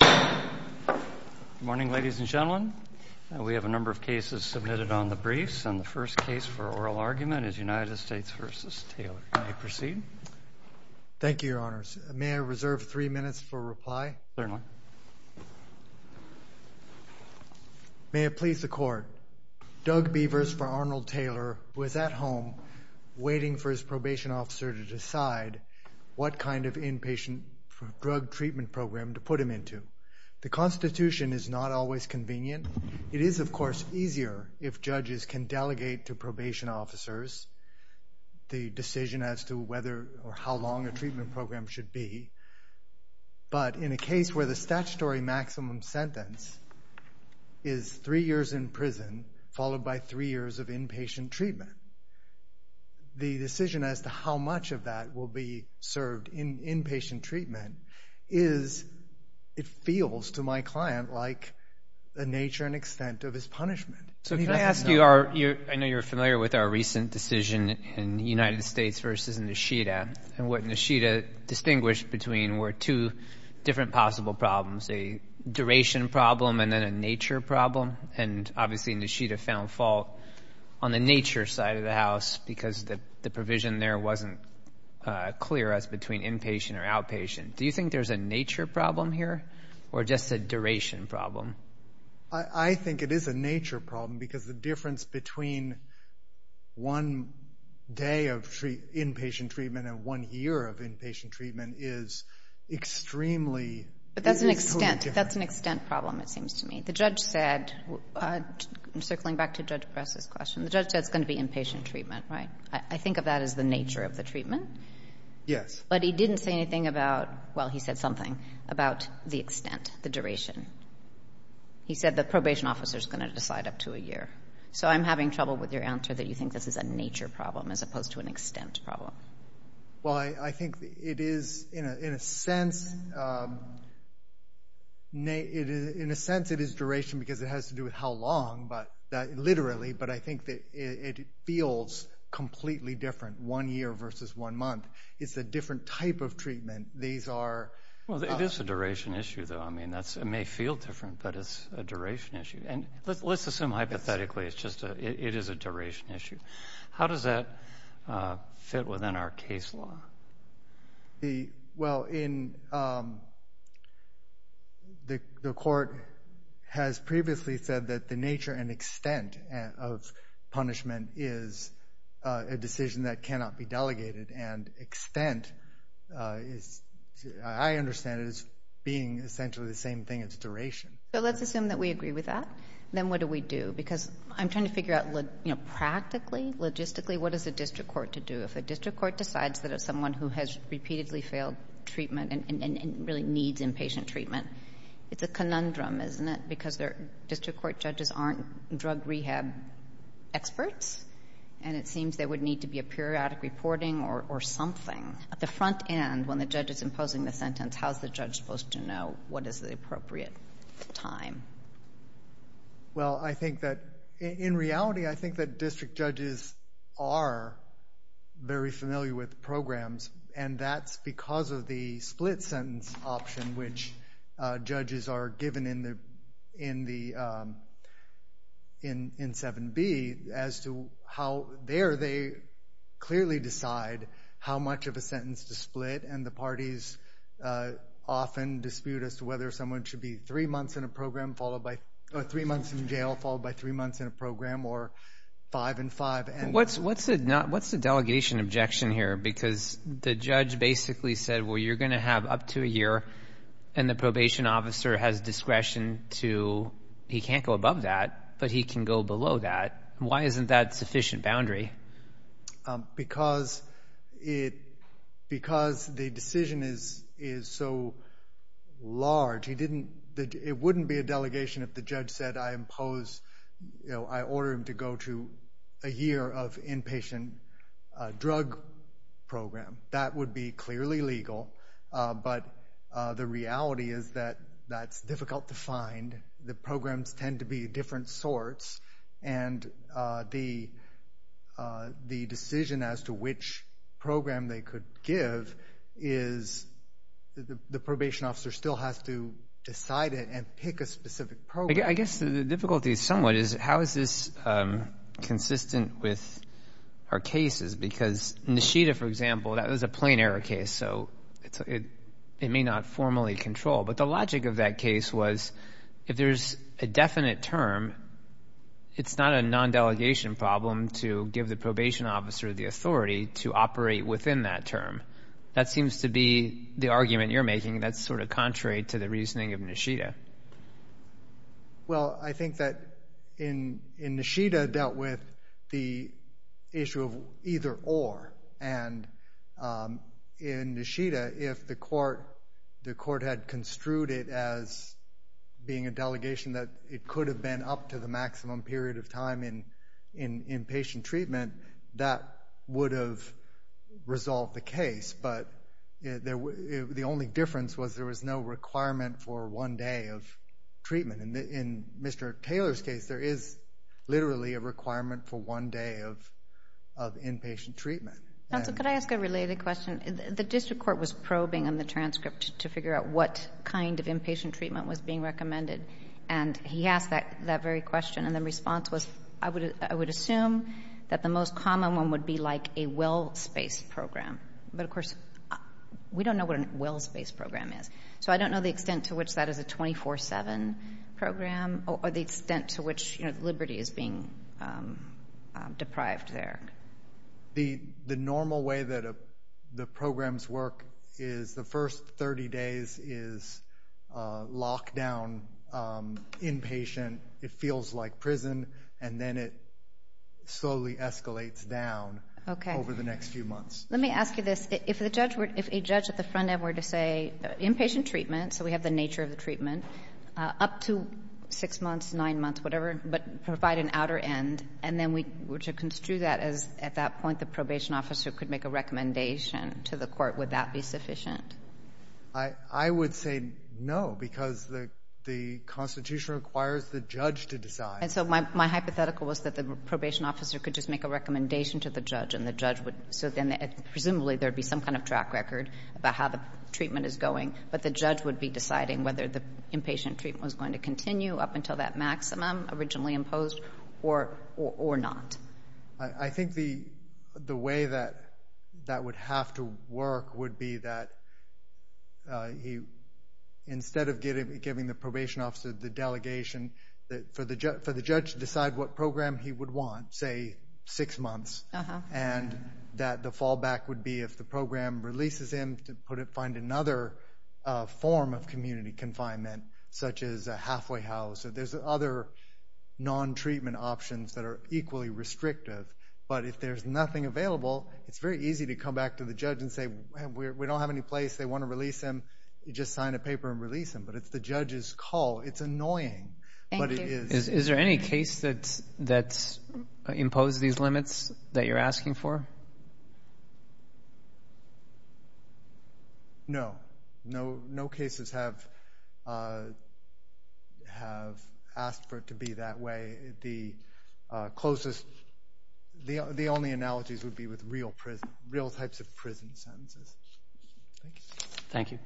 Good morning, ladies and gentlemen. We have a number of cases submitted on the briefs, and the first case for oral argument is United States v. Taylor. You may proceed. Thank you, Your Honors. May I reserve three minutes for reply? Certainly. May it please the Court. Doug Beavers for Arnold Taylor was at home waiting for his probation officer to decide what kind of inpatient drug treatment program to put him into. The Constitution is not always convenient. It is, of course, easier if judges can delegate to probation officers the decision as to whether or how long a treatment program should be. But in a case where the statutory maximum sentence is three years in prison followed by three years of inpatient treatment, the decision as to how much of that will be served in inpatient treatment feels to my client like the nature and extent of his punishment. So can I ask you, I know you're familiar with our recent decision in United States v. Nishida, and what Nishida distinguished between were two different possible problems, a duration problem and then a nature problem. And obviously Nishida found fault on the nature side of the house because the provision there wasn't clear as between inpatient or outpatient. Do you think there's a nature problem here or just a duration problem? I think it is a nature problem because the difference between one day of inpatient treatment and one year of inpatient treatment is extremely, is totally different. But that's an extent problem, it seems to me. The judge said, circling back to Judge Press's question, the judge said it's going to be inpatient treatment, right? I think of that as the nature of the treatment. Yes. But he didn't say anything about, well, he said something about the extent, the duration. He said the probation officer is going to decide up to a year. So I'm having trouble with your answer that you think this is a nature problem as opposed to an extent problem. Well, I think it is, in a sense, it is duration because it has to do with how long, literally, but I think that it feels completely different, one year versus one month. It's a different type of treatment. These are... Well, it is a duration issue, though. I mean, it may feel different, but it's a duration issue. And let's assume, hypothetically, it is a duration issue. How does that fit within our case law? Well, the court has previously said that the nature and extent of punishment is a decision that cannot be delegated. And extent, I understand it as being essentially the same thing as duration. So let's assume that we agree with that. Then what do we do? Because I'm trying to figure out practically, logistically, what is a district court to do? If a district court decides that it's someone who has repeatedly failed treatment and really needs inpatient treatment, it's a conundrum, isn't it, because district court judges aren't drug rehab experts and it seems there would need to be a periodic reporting or something. At the front end, when the judge is imposing the sentence, how is the judge supposed to know what is the appropriate time? Well, I think that in reality, I think that district judges are very familiar with programs, and that's because of the split sentence option which judges are given in 7B as to how there they clearly decide how much of a sentence to split. And the parties often dispute as to whether someone should be three months in a program followed by three months in jail followed by three months in a program or five and five. What's the delegation objection here? Because the judge basically said, well, you're going to have up to a year, and the probation officer has discretion to, he can't go above that, but he can go below that. Why isn't that sufficient boundary? Because the decision is so large, it wouldn't be a delegation if the judge said, I order him to go to a year of inpatient drug program. That would be clearly legal, but the reality is that that's difficult to find. The programs tend to be different sorts, and the decision as to which program they could give is the probation officer still has to decide it and pick a specific program. I guess the difficulty somewhat is how is this consistent with our cases? Because Nishida, for example, that was a plain error case, so it may not formally control. But the logic of that case was if there's a definite term, it's not a non-delegation problem to give the probation officer the authority to operate within that term. That seems to be the argument you're making that's sort of contrary to the reasoning of Nishida. Well, I think that in Nishida dealt with the issue of either or. And in Nishida, if the court had construed it as being a delegation that it could have been up to the The only difference was there was no requirement for one day of treatment. In Mr. Taylor's case, there is literally a requirement for one day of inpatient treatment. Counsel, could I ask a related question? The district court was probing on the transcript to figure out what kind of inpatient treatment was being recommended. And he asked that very question, and the response was, I would assume that the most common one would be like a well-spaced program. But, of course, we don't know what a well-spaced program is. So I don't know the extent to which that is a 24-7 program or the extent to which Liberty is being deprived there. The normal way that the programs work is the first 30 days is lockdown, inpatient. It feels like prison, and then it slowly escalates down over the next few months. Okay. Let me ask you this. If a judge at the front end were to say inpatient treatment, so we have the nature of the treatment, up to six months, nine months, whatever, but provide an outer end, and then we were to construe that as, at that point, the probation officer could make a recommendation to the court, would that be sufficient? I would say no, because the Constitution requires the judge to decide. And so my hypothetical was that the probation officer could just make a recommendation to the judge, and the judge would so then presumably there would be some kind of track record about how the treatment is going, but the judge would be deciding whether the inpatient treatment was going to continue up until that maximum originally imposed or not. I think the way that that would have to work would be that instead of giving the probation officer the delegation, for the judge to decide what program he would want, say six months, and that the fallback would be if the program releases him to find another form of community confinement, such as a halfway house, or there's other non-treatment options that are equally restrictive, but if there's nothing available, it's very easy to come back to the judge and say, we don't have any place, they want to release him, you just sign a paper and release him, but it's the judge's call, it's annoying. Thank you. Is there any case that's imposed these limits that you're asking for? No. No cases have asked for it to be that way. The only analogies would be with real types of prison sentences. Thank you. Thank you.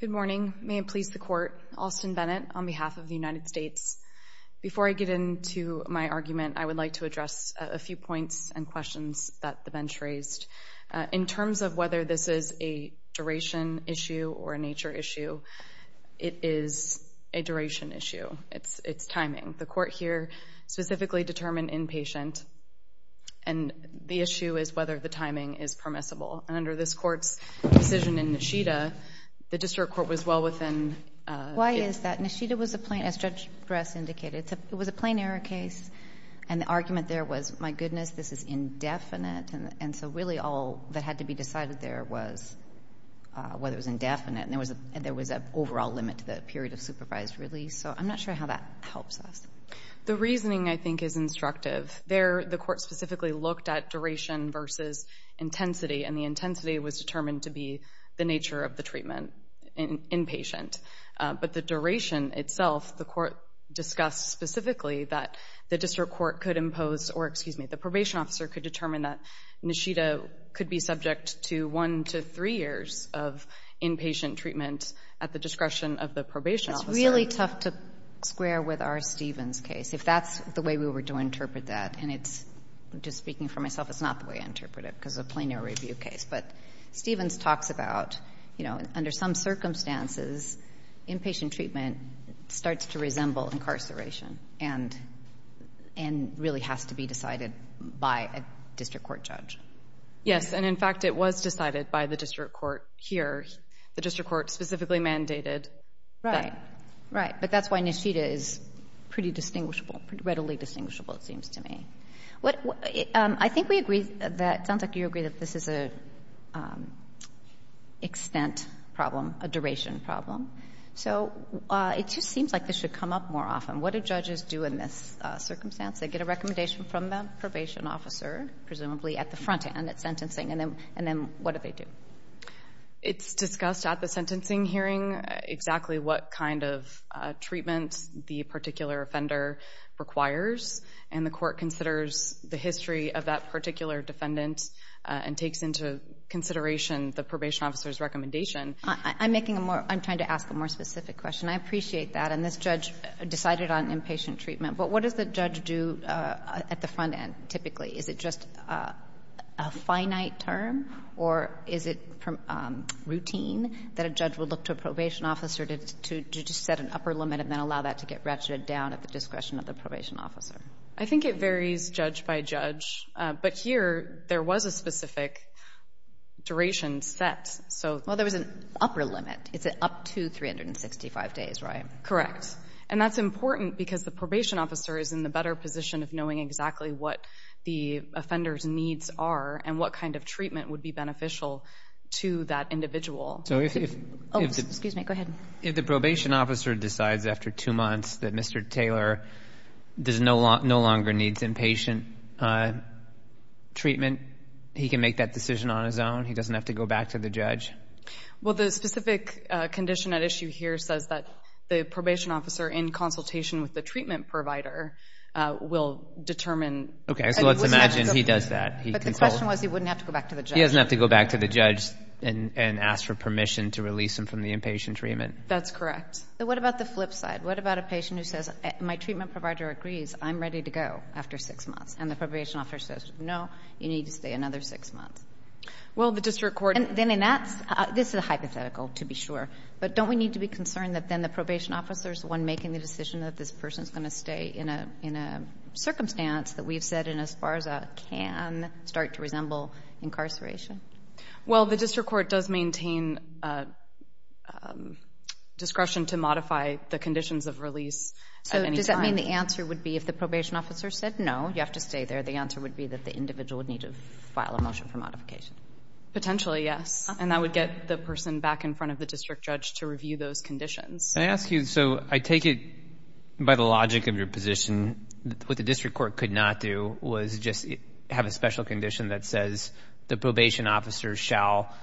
Good morning. May it please the court. Austin Bennett on behalf of the United States. Before I get into my argument, I would like to address a few points and questions that the bench raised. In terms of whether this is a duration issue or a nature issue, it is a duration issue. It's timing. The court here specifically determined inpatient, and the issue is whether the timing is permissible. And under this court's decision in Nishida, the district court was well within. Why is that? Nishida was a plain, as Judge Bress indicated, it was a plain error case, and the argument there was, my goodness, this is indefinite, and so really all that had to be decided there was whether it was indefinite, and there was an overall limit to the period of supervised release. So I'm not sure how that helps us. The reasoning, I think, is instructive. The court specifically looked at duration versus intensity, and the intensity was determined to be the nature of the treatment, inpatient. But the duration itself, the court discussed specifically that the district court could impose or, excuse me, the probation officer could determine that Nishida could be subject to one to three years of inpatient treatment at the discretion of the probation officer. It's really tough to square with our Stevens case. If that's the way we were to interpret that, and it's, just speaking for myself, it's not the way I interpret it because it's a plain error review case. But Stevens talks about, you know, under some circumstances, inpatient treatment starts to resemble incarceration and really has to be decided by a district court judge. Yes, and in fact it was decided by the district court here. The district court specifically mandated that. Right, right. But that's why Nishida is pretty distinguishable, readily distinguishable, it seems to me. I think we agree that, it sounds like you agree that this is an extent problem, a duration problem. So it just seems like this should come up more often. What do judges do in this circumstance? They get a recommendation from the probation officer, presumably at the front end, at sentencing, and then what do they do? It's discussed at the sentencing hearing exactly what kind of treatment the particular offender requires, and the court considers the history of that particular defendant and takes into consideration the probation officer's recommendation. I'm making a more, I'm trying to ask a more specific question. I appreciate that. And this judge decided on inpatient treatment. But what does the judge do at the front end, typically? Is it just a finite term, or is it routine that a judge would look to a probation officer to just set an upper limit and then allow that to get ratcheted down at the discretion of the probation officer? I think it varies judge by judge. But here, there was a specific duration set. Well, there was an upper limit. It's up to 365 days, right? Correct. And that's important because the probation officer is in the better position of knowing exactly what the offender's needs are and what kind of treatment would be beneficial to that individual. Oh, excuse me. Go ahead. If the probation officer decides after two months that Mr. Taylor no longer needs inpatient treatment, he can make that decision on his own? He doesn't have to go back to the judge? Well, the specific condition at issue here says that the probation officer, in consultation with the treatment provider, will determine. Okay, so let's imagine he does that. But the question was he wouldn't have to go back to the judge. He doesn't have to go back to the judge and ask for permission to release him from the inpatient treatment. That's correct. What about the flip side? What about a patient who says, my treatment provider agrees. I'm ready to go after six months. And the probation officer says, no, you need to stay another six months. Well, the district court And then in that, this is hypothetical, to be sure. But don't we need to be concerned that then the probation officer is the one making the decision that this person is going to stay in a circumstance that we've said in ESPARZA can start to resemble incarceration? Well, the district court does maintain discretion to modify the conditions of release at any time. So does that mean the answer would be if the probation officer said, no, you have to stay there, the answer would be that the individual would need to file a motion for modification? Potentially, yes. And that would get the person back in front of the district judge to review those conditions. Can I ask you, so I take it by the logic of your position, what the district court could not do was just have a special condition that says the probation officer shall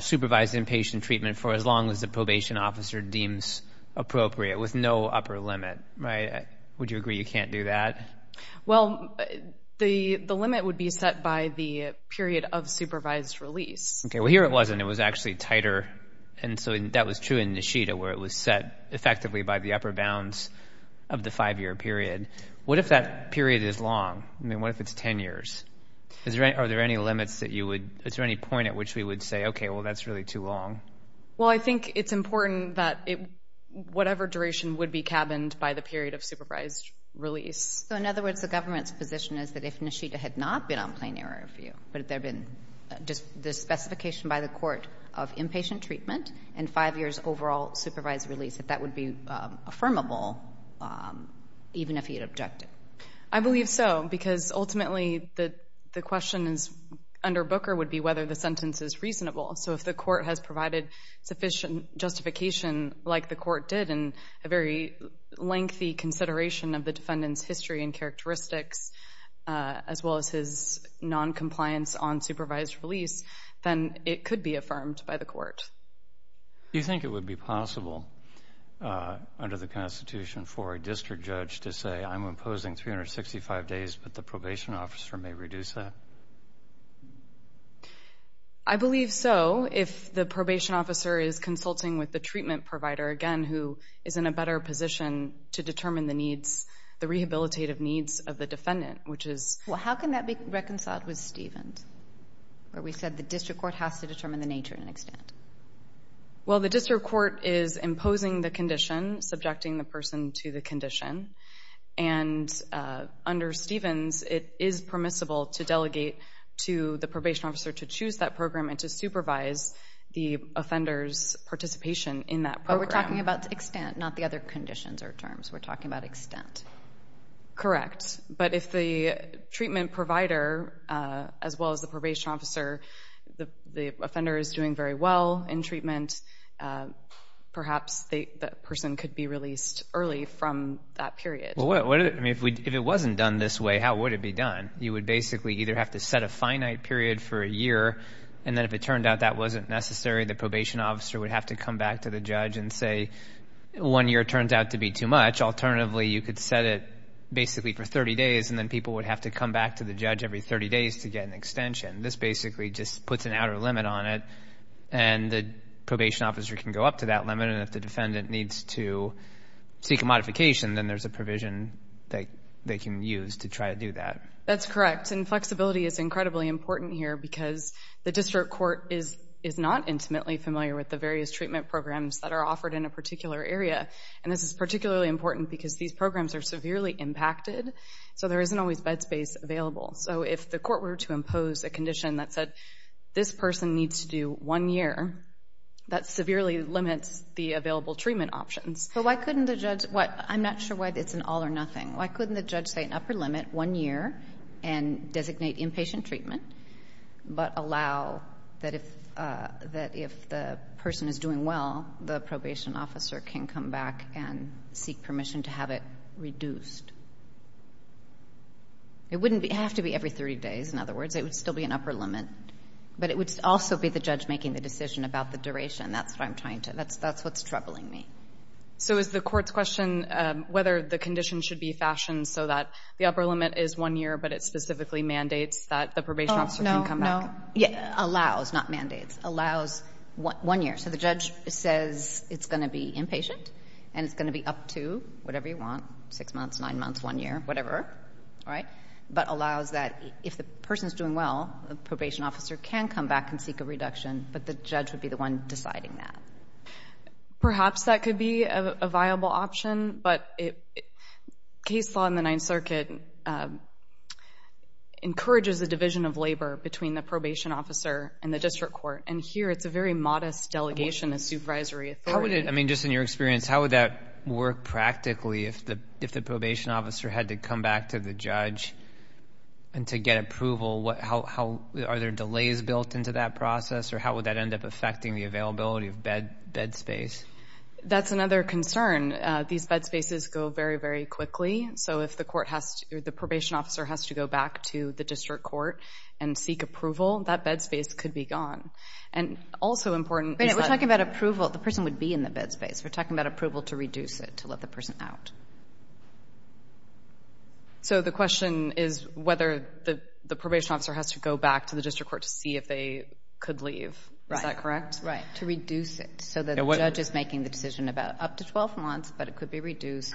supervise inpatient treatment for as long as the probation officer deems appropriate with no upper limit, right? Would you agree you can't do that? Well, the limit would be set by the period of supervised release. Okay. Well, here it wasn't. It was actually tighter. And so that was true in Neshita where it was set effectively by the upper bounds of the five-year period. What if that period is long? I mean, what if it's ten years? Are there any limits that you would, is there any point at which we would say, okay, well, that's really too long? Well, I think it's important that whatever duration would be cabined by the period of supervised release. So in other words, the government's position is that if Neshita had not been on plain error review, but if there had been the specification by the court of inpatient treatment and five years overall supervised release, that that would be affirmable even if he had objected? I believe so, because ultimately the question under Booker would be whether the sentence is reasonable. So if the court has provided sufficient justification like the court did in a very brief history and characteristics, as well as his noncompliance on supervised release, then it could be affirmed by the court. Do you think it would be possible under the Constitution for a district judge to say, I'm imposing 365 days, but the probation officer may reduce that? I believe so if the probation officer is consulting with the treatment provider, again, who is in a better position to determine the needs, the rehabilitative needs of the defendant, which is... Well, how can that be reconciled with Stevens, where we said the district court has to determine the nature and extent? Well, the district court is imposing the condition, subjecting the person to the condition. And under Stevens, it is permissible to delegate to the probation officer to choose that program and to supervise the offender's participation in that program. But we're talking about extent, not the other conditions or terms. We're talking about extent. Correct. But if the treatment provider, as well as the probation officer, the offender is doing very well in treatment, perhaps that person could be released early from that period. I mean, if it wasn't done this way, how would it be done? You would basically either have to set a finite period for a year, and then if it turned out that wasn't necessary, the probation officer would have to come back to the judge and say, one year turns out to be too much. Alternatively, you could set it basically for 30 days, and then people would have to come back to the judge every 30 days to get an extension. This basically just puts an outer limit on it, and the probation officer can go up to that limit. And if the defendant needs to seek a modification, then there's a provision that they can use to try to do that. That's correct. And flexibility is incredibly important here because the district court is not intimately familiar with the various treatment programs that are offered in a particular area. And this is particularly important because these programs are severely impacted, so there isn't always bed space available. So if the court were to impose a condition that said, this person needs to do one year, that severely limits the available treatment options. But why couldn't the judge – I'm not sure why it's an all or nothing. Why couldn't the judge say an upper limit, one year, and designate inpatient treatment, but allow that if the person is doing well, the probation officer can come back and seek permission to have it reduced? It wouldn't have to be every 30 days, in other words. It would still be an upper limit. But it would also be the judge making the decision about the duration. That's what I'm trying to – that's what's troubling me. So is the court's question whether the condition should be fashioned so that the upper limit is one year, but it specifically mandates that the probation officer can come back? Oh, no, no. It allows, not mandates. It allows one year. So the judge says it's going to be inpatient and it's going to be up to whatever you want, six months, nine months, one year, whatever. All right? But allows that if the person is doing well, the probation officer can come back and seek a reduction, but the judge would be the one deciding that. Perhaps that could be a viable option, but case law in the Ninth Circuit encourages a division of labor between the probation officer and the district court, and here it's a very modest delegation of supervisory authority. How would it – I mean, just in your experience, how would that work practically if the probation officer had to come back to the judge and to get approval? Are there delays built into that process, or how would that end up affecting the bed space? That's another concern. These bed spaces go very, very quickly. So if the court has to – or the probation officer has to go back to the district court and seek approval, that bed space could be gone. And also important is that – We're talking about approval. The person would be in the bed space. We're talking about approval to reduce it, to let the person out. So the question is whether the probation officer has to go back to the district court to see if they could leave. Is that correct? Right. To reduce it so that the judge is making the decision about up to 12 months, but it could be reduced.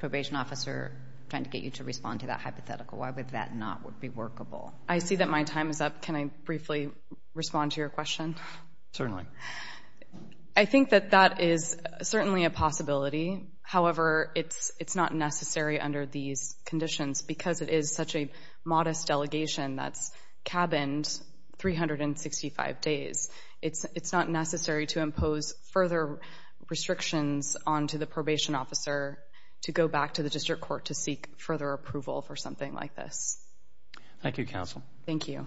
Probation officer trying to get you to respond to that hypothetical. Why would that not be workable? I see that my time is up. Can I briefly respond to your question? Certainly. I think that that is certainly a possibility. However, it's not necessary under these conditions because it is such a modest delegation that's cabined 365 days. It's not necessary to impose further restrictions onto the probation officer to go back to the district court to seek further approval for something like this. Thank you, counsel. Thank you.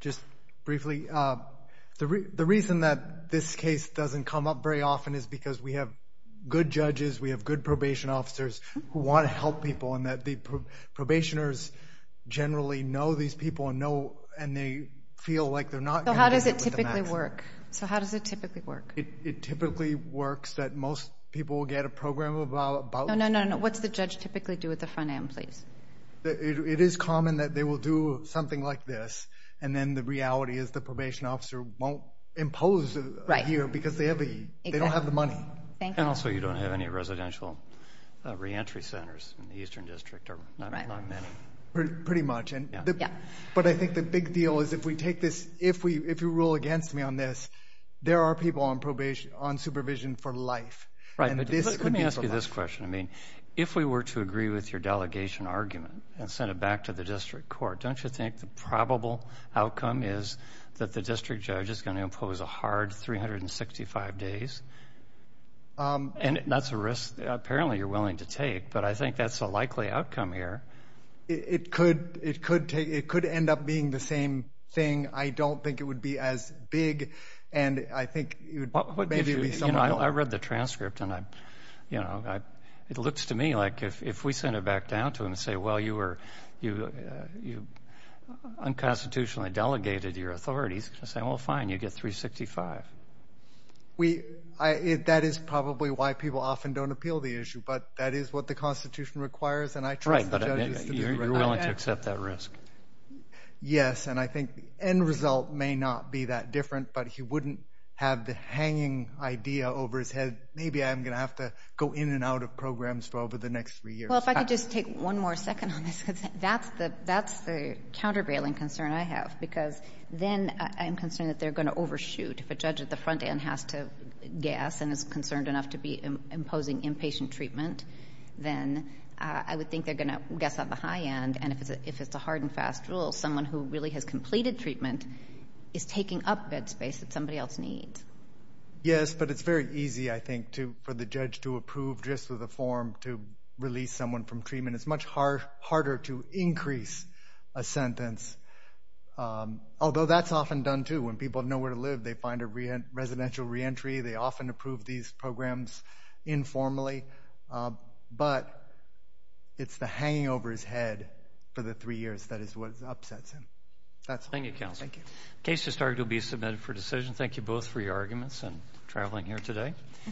Just briefly, the reason that this case doesn't come up very often is because we have good probation officers who want to help people and that the probationers generally know these people and they feel like they're not going to do it with the maximum. So how does it typically work? It typically works that most people will get a program about. No, no, no. What's the judge typically do at the front end, please? It is common that they will do something like this and then the reality is the probation officer won't impose here because they don't have the money. Thank you. And also you don't have any residential reentry centers in the eastern district. Right. Pretty much. Yeah. But I think the big deal is if we take this, if you rule against me on this, there are people on supervision for life. Right. Let me ask you this question. I mean, if we were to agree with your delegation argument and send it back to the district court, don't you think the probable outcome is that the district judge is going to impose a hard 365 days? And that's a risk apparently you're willing to take, but I think that's a likely outcome here. It could end up being the same thing. I don't think it would be as big and I think it would make you be somewhat more. You know, I read the transcript and, you know, it looks to me like if we send it back down to them and say, well, you unconstitutionally delegated your authorities, they're going to say, well, fine, you get 365. That is probably why people often don't appeal the issue, but that is what the Constitution requires and I trust the judges to do the right thing. You're willing to accept that risk. Yes. And I think the end result may not be that different, but he wouldn't have the hanging idea over his head, maybe I'm going to have to go in and out of programs for over the next three years. Well, if I could just take one more second on this, because that's the countervailing concern I have, because then I'm concerned that they're going to overshoot. If a judge at the front end has to guess and is concerned enough to be imposing inpatient treatment, then I would think they're going to guess on the high end. And if it's a hard and fast rule, someone who really has completed treatment is taking up bed space that somebody else needs. Yes, but it's very easy, I think, for the judge to approve just with a form to release someone from treatment. It's much harder to increase a sentence, although that's often done, too. When people have nowhere to live, they find a residential reentry. They often approve these programs informally, but it's the hanging over his head for the three years that is what upsets him. Thank you, counsel. Thank you. The case has started to be submitted for decision. Thank you both for your arguments and traveling here today.